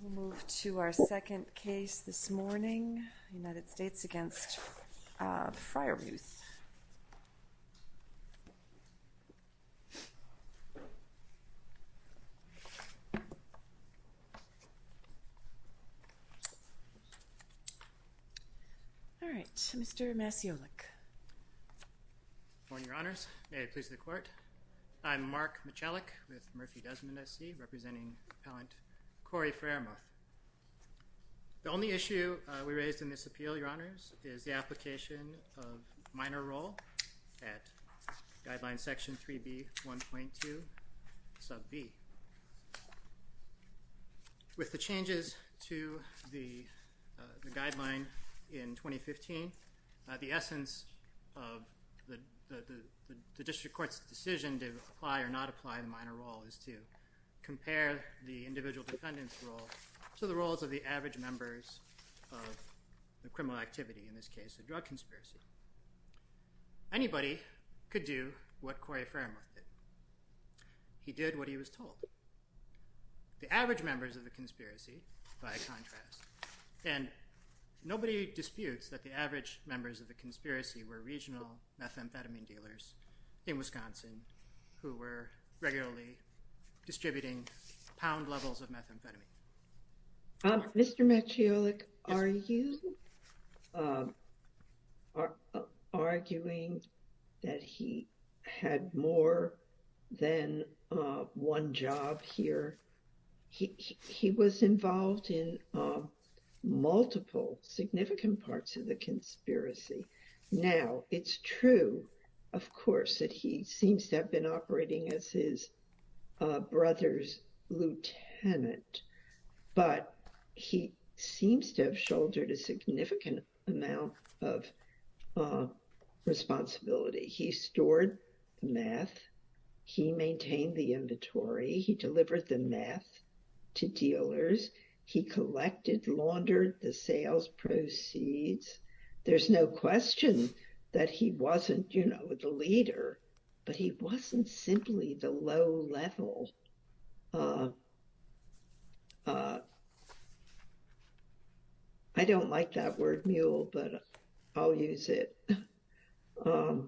We'll move to our second case this morning, United States v. Freyermuth. All right, Mr. Masiolik. Good morning, Your Honors. May it please the Court. I'm Mark Masiolik with Murphy Desmond SC, representing Appellant Cory Freyermuth. The only issue we raised in this appeal, Your Honors, is the application of minor role at Guideline Section 3B, 1.2, Sub B. With the changes to the Guideline in 2015, the essence of the District Court's decision to apply or not apply a minor role is to compare the individual defendant's role to the roles of the average members of the criminal activity, in this case a drug conspiracy. Anybody could do what Cory Freyermuth did. He did what he was told. The average members of the conspiracy, by contrast, and nobody disputes that the average members of the conspiracy were regional methamphetamine dealers in Wisconsin who were regularly distributing pound levels of methamphetamine. Mr. Masiolik, are you arguing that he had more than one job here? He was involved in multiple significant parts of the conspiracy. Now, it's true, of course, that he seems to have been operating as his brother's lieutenant, but he seems to have shouldered a significant amount of responsibility. He stored the meth. He maintained the inventory. He delivered the meth to dealers. He collected, laundered the sales proceeds. There's no question that he wasn't, you know, the leader, but he wasn't simply the low level. I don't like that word mule, but I'll use it. I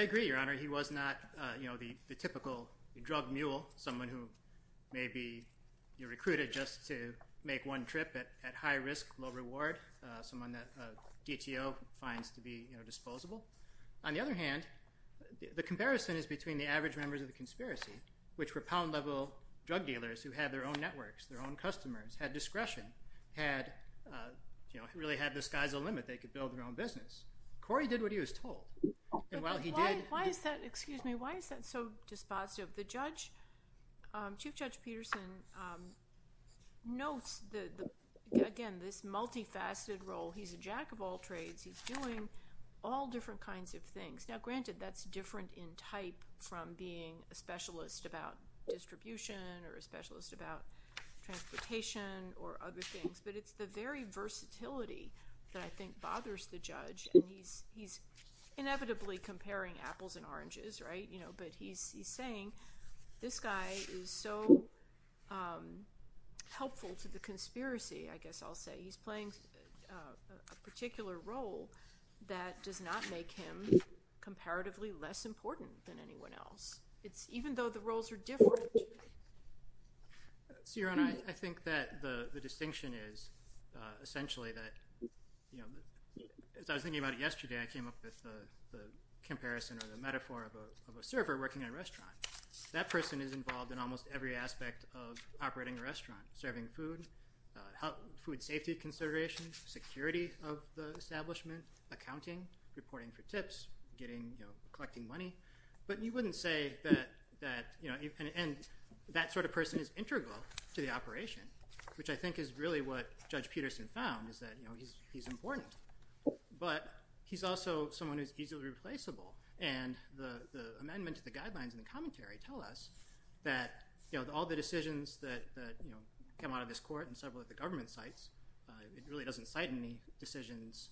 agree, Your Honor. He was not, you know, the typical drug mule, someone who may be recruited just to make one trip at high risk, low reward, someone that DTO finds to be, you know, disposable. On the other hand, the comparison is between the average members of the conspiracy, which were pound level drug dealers who had their own networks, their own customers, had discretion, had, you know, really had the skies a limit they could build their own business. Corey did what he was told. And while he did— Why is that—excuse me. Why is that so dispositive? The judge, Chief Judge Peterson, notes, again, this multifaceted role. He's a jack of all trades. He's doing all different kinds of things. Now, granted, that's different in type from being a specialist about distribution or a specialist about transportation or other things. But it's the very versatility that I think bothers the judge. And he's inevitably comparing apples and oranges, right? You know, but he's saying this guy is so helpful to the conspiracy, I guess I'll say. He's playing a particular role that does not make him comparatively less important than anyone else, even though the roles are different. Ciarán, I think that the distinction is essentially that, you know, as I was thinking about it yesterday, I came up with the comparison or the metaphor of a server working at a restaurant. That person is involved in almost every aspect of operating a restaurant, serving food, food safety considerations, security of the establishment, accounting, reporting for tips, getting, you know, collecting money. But you wouldn't say that, you know, and that sort of person is integral to the operation, which I think is really what Judge Peterson found is that, you know, he's important. But he's also someone who's easily replaceable. And the amendment to the guidelines in the commentary tell us that, you know, all the decisions that, you know, come out of this court and several of the government cites, it really doesn't cite any decisions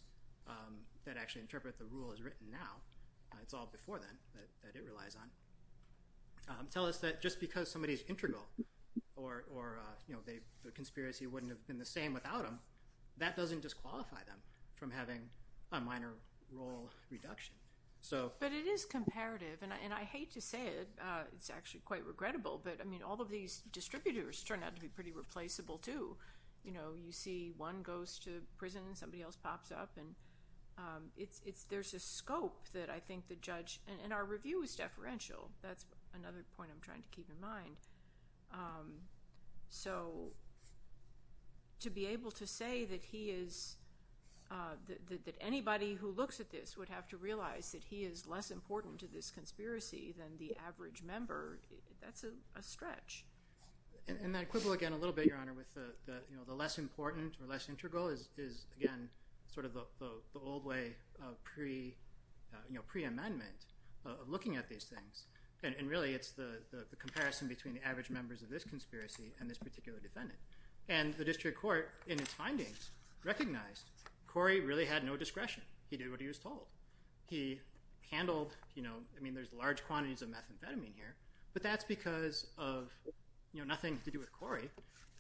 that actually interpret the rule as written now. It's all before then that it relies on. Tell us that just because somebody's integral or, you know, the conspiracy wouldn't have been the same without them, that doesn't disqualify them from having a minor role reduction. But it is comparative, and I hate to say it. It's actually quite regrettable. But, I mean, all of these distributors turn out to be pretty replaceable, too. You know, you see one goes to prison, somebody else pops up, and it's, there's a scope that I think the judge, and our review is deferential. That's another point I'm trying to keep in mind. So, to be able to say that he is, that anybody who looks at this would have to realize that he is less important to this conspiracy than the average member, that's a stretch. And I quibble again a little bit, Your Honor, with the, you know, the less important or less integral is, again, sort of the old way of pre, you know, preamendment of looking at these things. And really it's the comparison between the average members of this conspiracy and this particular defendant. And the district court, in its findings, recognized Corey really had no discretion. He did what he was told. He handled, you know, I mean, there's large quantities of methamphetamine here, but that's because of, you know, nothing to do with Corey.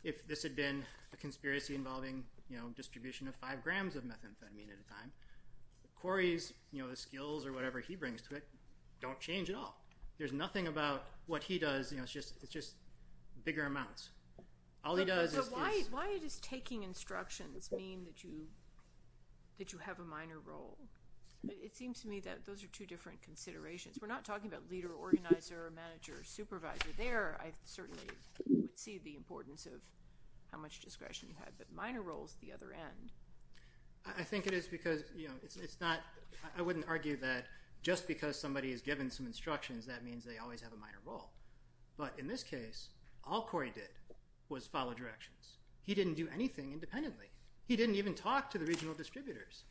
If this had been a conspiracy involving, you know, distribution of five grams of methamphetamine at a time, Corey's, you know, his skills or whatever he brings to it don't change at all. There's nothing about what he does, you know, it's just, it's just bigger amounts. Why does taking instructions mean that you have a minor role? It seems to me that those are two different considerations. We're not talking about leader, organizer, manager, supervisor there. I certainly would see the importance of how much discretion you have, but minor roles at the other end. I think it is because, you know, it's not, I wouldn't argue that just because somebody is given some instructions that means they always have a minor role. But in this case, all Corey did was follow directions. He didn't do anything independently. He didn't even talk to the regional distributors.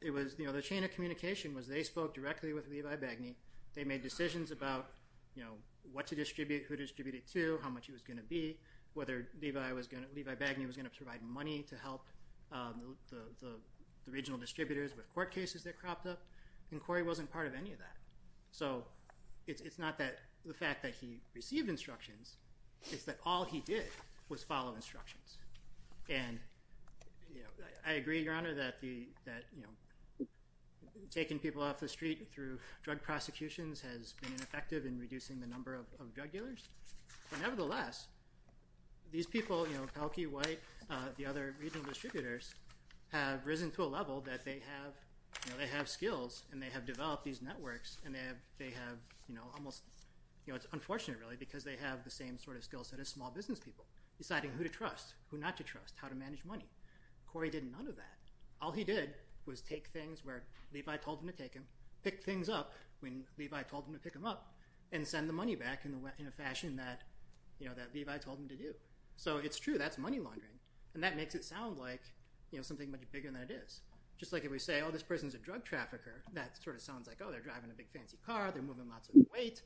It was, you know, the chain of communication was they spoke directly with Levi Bagny. They made decisions about, you know, what to distribute, who to distribute it to, how much it was going to be, whether Levi was going to, Levi Bagny was going to provide money to help the regional distributors with court cases that cropped up. And Corey wasn't part of any of that. So it's not that the fact that he received instructions, it's that all he did was follow instructions. And, you know, I agree, Your Honor, that, you know, taking people off the street through drug prosecutions has been ineffective in reducing the number of drug dealers. But nevertheless, these people, you know, Pelkey, White, the other regional distributors have risen to a level that they have, you know, they have skills and they have developed these networks and they have, you know, almost, you know, it's unfortunate really because they have the same sort of skill set as small business people, deciding who to trust, who not to trust, how to manage money. Corey did none of that. All he did was take things where Levi told him to take them, pick things up when Levi told him to pick them up, and send the money back in a fashion that, you know, that Levi told him to do. So it's true, that's money laundering. And that makes it sound like, you know, something much bigger than it is. Just like if we say, oh, this person's a drug trafficker, that sort of sounds like, oh, they're driving a big fancy car, they're moving lots of weight.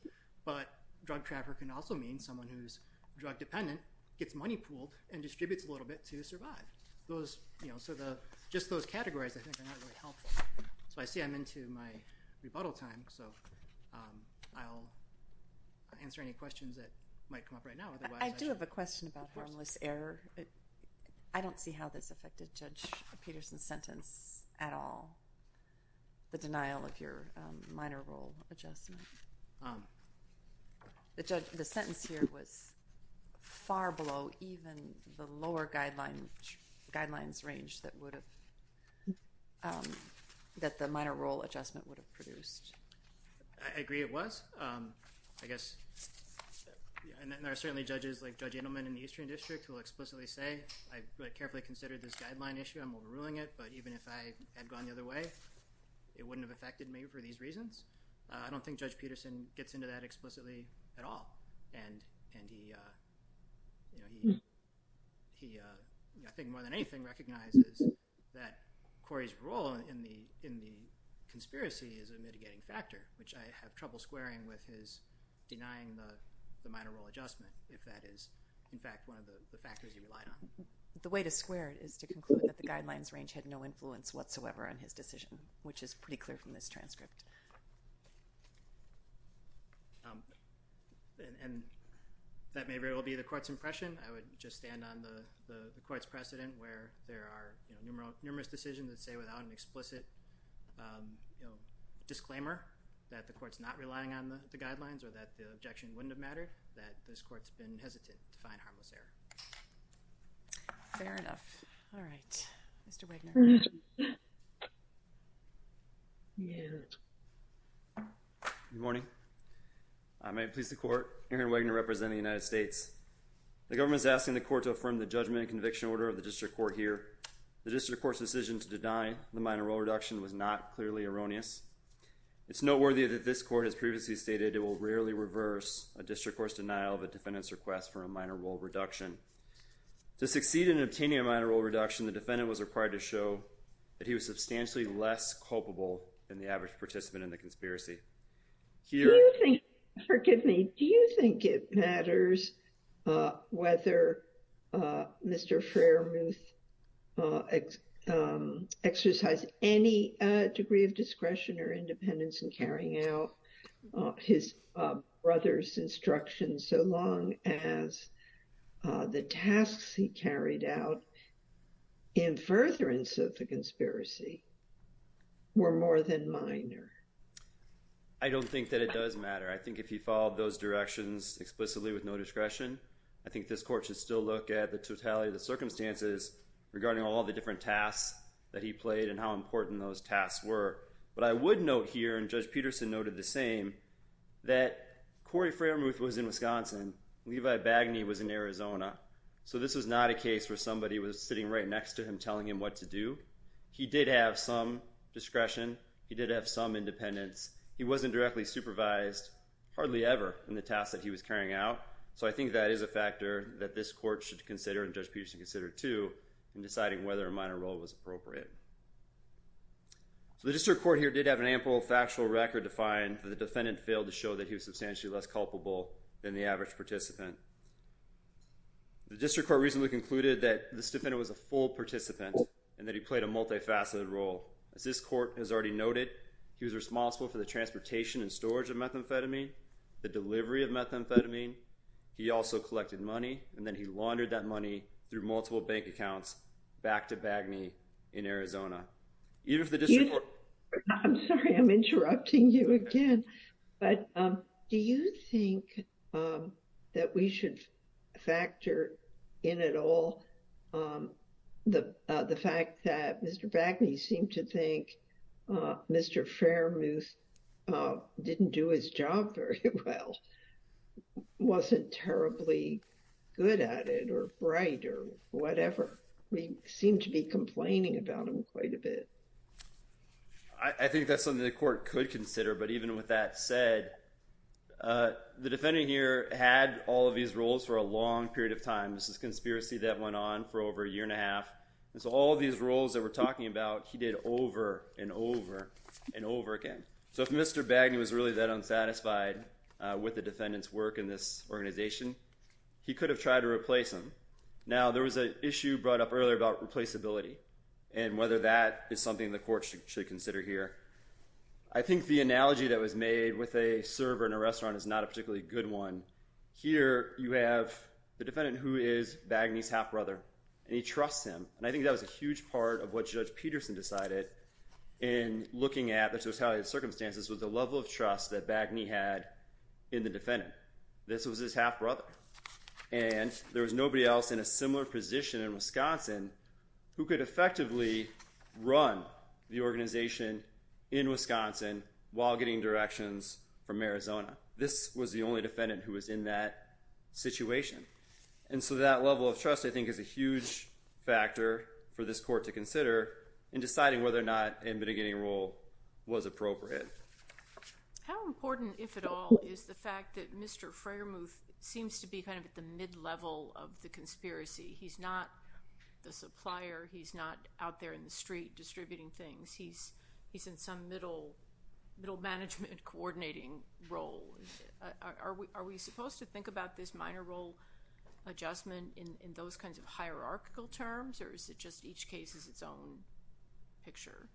But drug trafficking also means someone who's drug dependent gets money pooled and distributes a little bit to survive. So just those categories I think are not really helpful. So I see I'm into my rebuttal time, so I'll answer any questions that might come up right now. I do have a question about harmless error. I don't see how this affected Judge Peterson's sentence at all, the denial of your minor role adjustment. The sentence here was far below even the lower guidelines range that would have, that the minor role adjustment would have produced. I agree it was. I guess, and there are certainly judges like Judge Edelman in the Eastern District who will explicitly say, I carefully considered this guideline issue, I'm overruling it. But even if I had gone the other way, it wouldn't have affected me for these reasons. I don't think Judge Peterson gets into that explicitly at all. And he, I think more than anything, recognizes that Corey's role in the conspiracy is a mitigating factor, which I have trouble squaring with his denying the minor role adjustment, if that is, in fact, one of the factors he relied on. The way to square it is to conclude that the guidelines range had no influence whatsoever on his decision, which is pretty clear from this transcript. And that may very well be the court's impression. I would just stand on the court's precedent where there are numerous decisions that say without an explicit disclaimer that the court's not relying on the guidelines or that the objection wouldn't have mattered, that this court's been hesitant to find harmless error. Fair enough. All right. Mr. Wigner. Yes. Good morning. I may please the court. Aaron Wigner representing the United States. The government is asking the court to affirm the judgment and conviction order of the district court here. The district court's decision to deny the minor role reduction was not clearly erroneous. It's noteworthy that this court has previously stated it will rarely reverse a district court's denial of a defendant's request for a minor role reduction. To succeed in obtaining a minor role reduction, the defendant was required to show that he was substantially less culpable than the average participant in the conspiracy. Forgive me. Do you think it matters whether Mr. I don't think that it does matter. I think if he followed those directions explicitly with no discretion, I think this court should still look at the totality of the circumstances regarding all the different tasks that he played and how important those tasks were. But I would note here, and Judge Peterson noted the same, that Corey Framuth was in Wisconsin. Levi Bagney was in Arizona. So this was not a case where somebody was sitting right next to him telling him what to do. He did have some discretion. He did have some independence. He wasn't directly supervised, hardly ever, in the tasks that he was carrying out. So I think that is a factor that this court should consider, and Judge Peterson should consider too, in deciding whether a minor role was appropriate. So the district court here did have an ample factual record to find that the defendant failed to show that he was substantially less culpable than the average participant. The district court recently concluded that this defendant was a full participant and that he played a multifaceted role. As this court has already noted, he was responsible for the transportation and storage of methamphetamine, the delivery of methamphetamine. He also collected money, and then he laundered that money through multiple bank accounts back to Bagney in Arizona. Even if the district court— Mr. Bagney seemed to think Mr. Fairmuth didn't do his job very well, wasn't terribly good at it, or bright, or whatever. We seem to be complaining about him quite a bit. I think that's something the court could consider, but even with that said, the defendant here had all of these roles for a long period of time. This is a conspiracy that went on for over a year and a half. And so all of these roles that we're talking about, he did over and over and over again. So if Mr. Bagney was really that unsatisfied with the defendant's work in this organization, he could have tried to replace him. Now, there was an issue brought up earlier about replaceability and whether that is something the court should consider here. I think the analogy that was made with a server in a restaurant is not a particularly good one. Here you have the defendant who is Bagney's half-brother, and he trusts him. And I think that was a huge part of what Judge Peterson decided in looking at the totality of circumstances with the level of trust that Bagney had in the defendant. This was his half-brother, and there was nobody else in a similar position in Wisconsin who could effectively run the organization in Wisconsin while getting directions from Arizona. This was the only defendant who was in that situation. And so that level of trust, I think, is a huge factor for this court to consider in deciding whether or not a mitigating role was appropriate. How important, if at all, is the fact that Mr. Framuth seems to be kind of at the mid-level of the conspiracy? He's not the supplier. He's not out there in the street distributing things. He's in some middle management coordinating role. Are we supposed to think about this minor role adjustment in those kinds of hierarchical terms, or is it just each case is its own picture?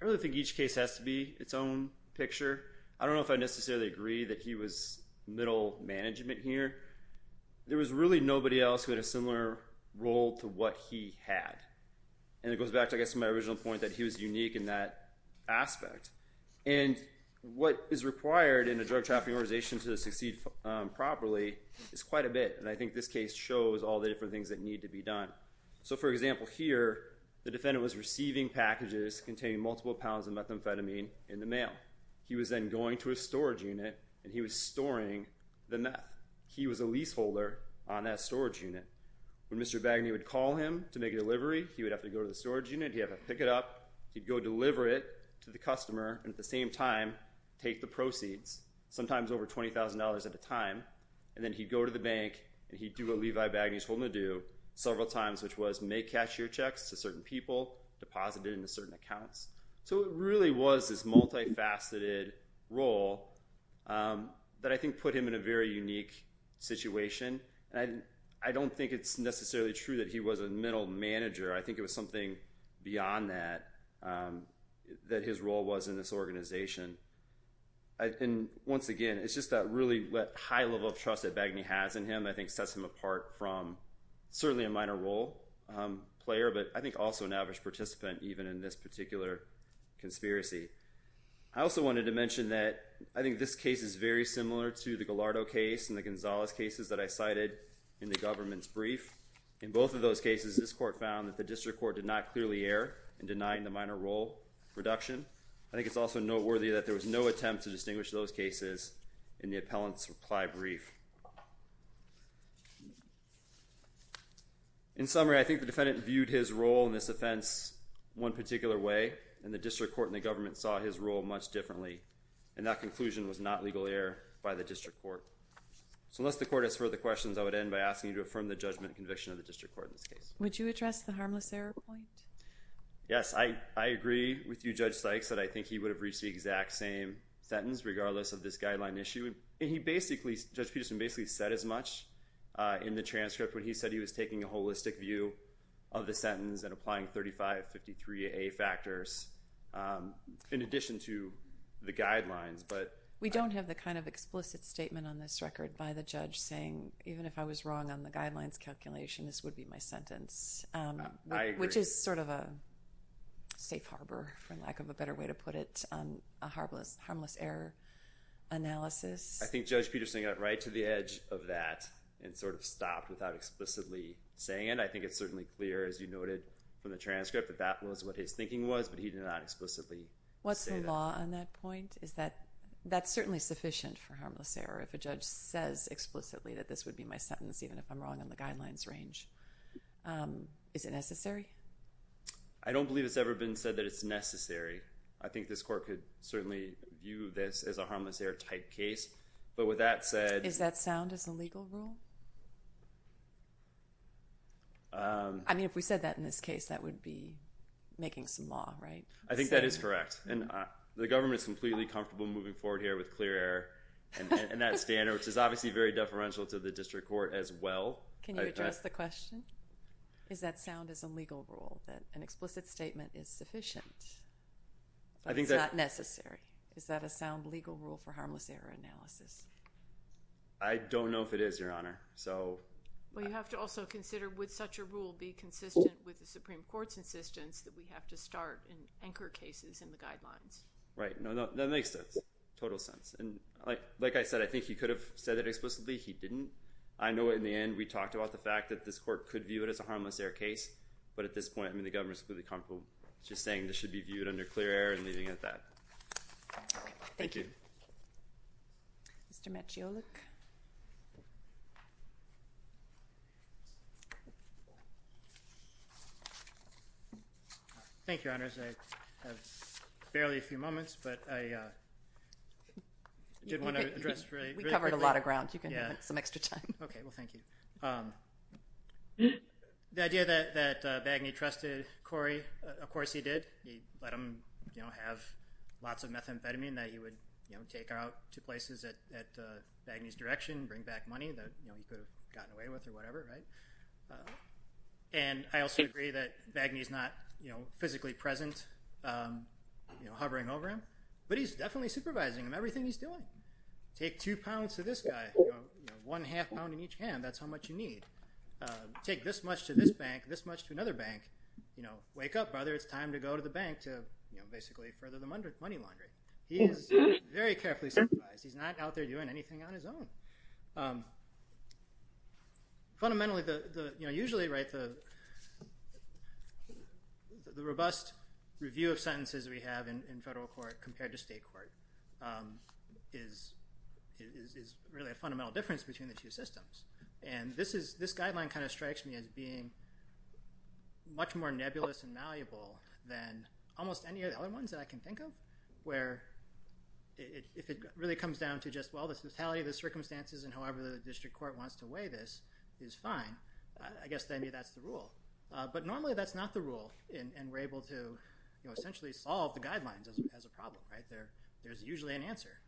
I really think each case has to be its own picture. I don't know if I necessarily agree that he was middle management here. There was really nobody else who had a similar role to what he had. And it goes back to, I guess, my original point that he was unique in that aspect. And what is required in a drug trafficking organization to succeed properly is quite a bit. And I think this case shows all the different things that need to be done. So, for example, here the defendant was receiving packages containing multiple pounds of methamphetamine in the mail. He was then going to a storage unit, and he was storing the meth. He was a leaseholder on that storage unit. When Mr. Bagney would call him to make a delivery, he would have to go to the storage unit. He'd have to pick it up. He'd go deliver it to the customer and at the same time take the proceeds, sometimes over $20,000 at a time. And then he'd go to the bank, and he'd do what Levi Bagney's told him to do several times, which was make cashier checks to certain people, deposit it into certain accounts. So it really was this multifaceted role that I think put him in a very unique situation. And I don't think it's necessarily true that he was a middle manager. I think it was something beyond that that his role was in this organization. And once again, it's just that really high level of trust that Bagney has in him I think sets him apart from certainly a minor role player, but I think also an average participant even in this particular conspiracy. I also wanted to mention that I think this case is very similar to the Gallardo case and the Gonzalez cases that I cited in the government's brief. In both of those cases, this court found that the district court did not clearly err in denying the minor role reduction. I think it's also noteworthy that there was no attempt to distinguish those cases in the appellant's reply brief. In summary, I think the defendant viewed his role in this offense one particular way, and the district court and the government saw his role much differently. And that conclusion was not legal error by the district court. So unless the court has further questions, I would end by asking you to affirm the judgment and conviction of the district court in this case. Would you address the harmless error point? Yes. I agree with you, Judge Sykes, that I think he would have reached the exact same sentence regardless of this guideline issue. And Judge Peterson basically said as much in the transcript when he said he was taking a holistic view of the sentence and applying 3553A factors in addition to the guidelines. We don't have the kind of explicit statement on this record by the judge saying, even if I was wrong on the guidelines calculation, this would be my sentence, which is sort of a safe harbor, for lack of a better way to put it, a harmless error analysis. I think Judge Peterson got right to the edge of that and sort of stopped without explicitly saying it. I think it's certainly clear, as you noted from the transcript, that that was what his thinking was, but he did not explicitly say that. What's the law on that point? That's certainly sufficient for harmless error if a judge says explicitly that this would be my sentence, even if I'm wrong on the guidelines range. Is it necessary? I don't believe it's ever been said that it's necessary. I think this court could certainly view this as a harmless error type case. Is that sound as a legal rule? I mean, if we said that in this case, that would be making some law, right? I think that is correct. The government is completely comfortable moving forward here with clear error and that standard, which is obviously very deferential to the district court as well. Can you address the question? Is that sound as a legal rule, that an explicit statement is sufficient, but it's not necessary? Is that a sound legal rule for harmless error analysis? I don't know if it is, Your Honor. Well, you have to also consider, would such a rule be consistent with the Supreme Court's insistence that we have to start in anchor cases in the guidelines? Right. No, that makes total sense. And like I said, I think he could have said it explicitly. He didn't. I know in the end we talked about the fact that this court could view it as a harmless error case, but at this point, I mean, the government is completely comfortable just saying this should be viewed under clear error and leaving it at that. Okay. Thank you. Thank you. Mr. Maciolak. Thank you, Your Honors. I have barely a few moments, but I did want to address really quickly. We covered a lot of ground. You can have some extra time. Okay. Well, thank you. The idea that Bagney trusted Corey, of course he did. He let him have lots of methamphetamine that he would take out to places at Bagney's direction, bring back money that he could have gotten away with or whatever, right? And I also agree that Bagney's not physically present, hovering over him, but he's definitely supervising him, everything he's doing. Take two pounds to this guy, one half pound in each hand. That's how much you need. Take this much to this bank, this much to another bank. Wake up, brother. It's time to go to the bank to basically further the money laundry. He is very carefully supervised. He's not out there doing anything on his own. Fundamentally, usually the robust review of sentences we have in federal court compared to state court is really a fundamental difference between the two systems. And this guideline kind of strikes me as being much more nebulous and malleable than almost any of the other ones that I can think of, where if it really comes down to just, well, the totality of the circumstances and however the district court wants to weigh this is fine, I guess then that's the rule. But normally that's not the rule, and we're able to essentially solve the guidelines as a problem, right? There's usually an answer,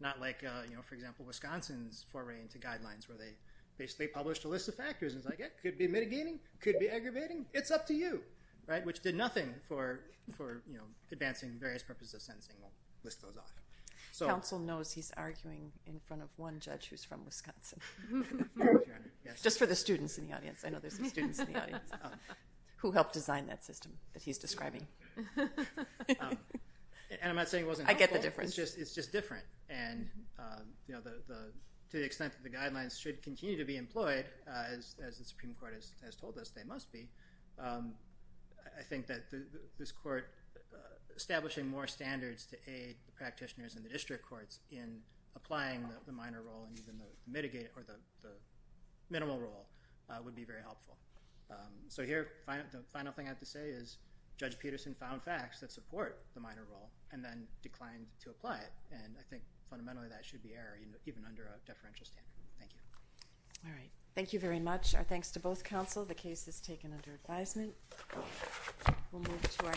not like, for example, Wisconsin's foray into guidelines where they basically published a list of factors. It's like, it could be mitigating. It could be aggravating. It's up to you, right, which did nothing for advancing various purposes of sentencing. We'll list those off. Counsel knows he's arguing in front of one judge who's from Wisconsin. Just for the students in the audience. I know there's some students in the audience who helped design that system that he's describing. And I'm not saying it wasn't helpful. I get the difference. It's just different, and to the extent that the guidelines should continue to be employed, as the Supreme Court has told us they must be, I think that this court establishing more standards to aid the practitioners and the district courts in applying the minor role and even the mitigated or the minimal role would be very helpful. So here, the final thing I have to say is Judge Peterson found facts that support the minor role and then declined to apply it, and I think fundamentally that should be error even under a deferential standard. Thank you. All right. Thank you very much. Our thanks to both counsel. The case is taken under advisement. We'll move to our next speaker.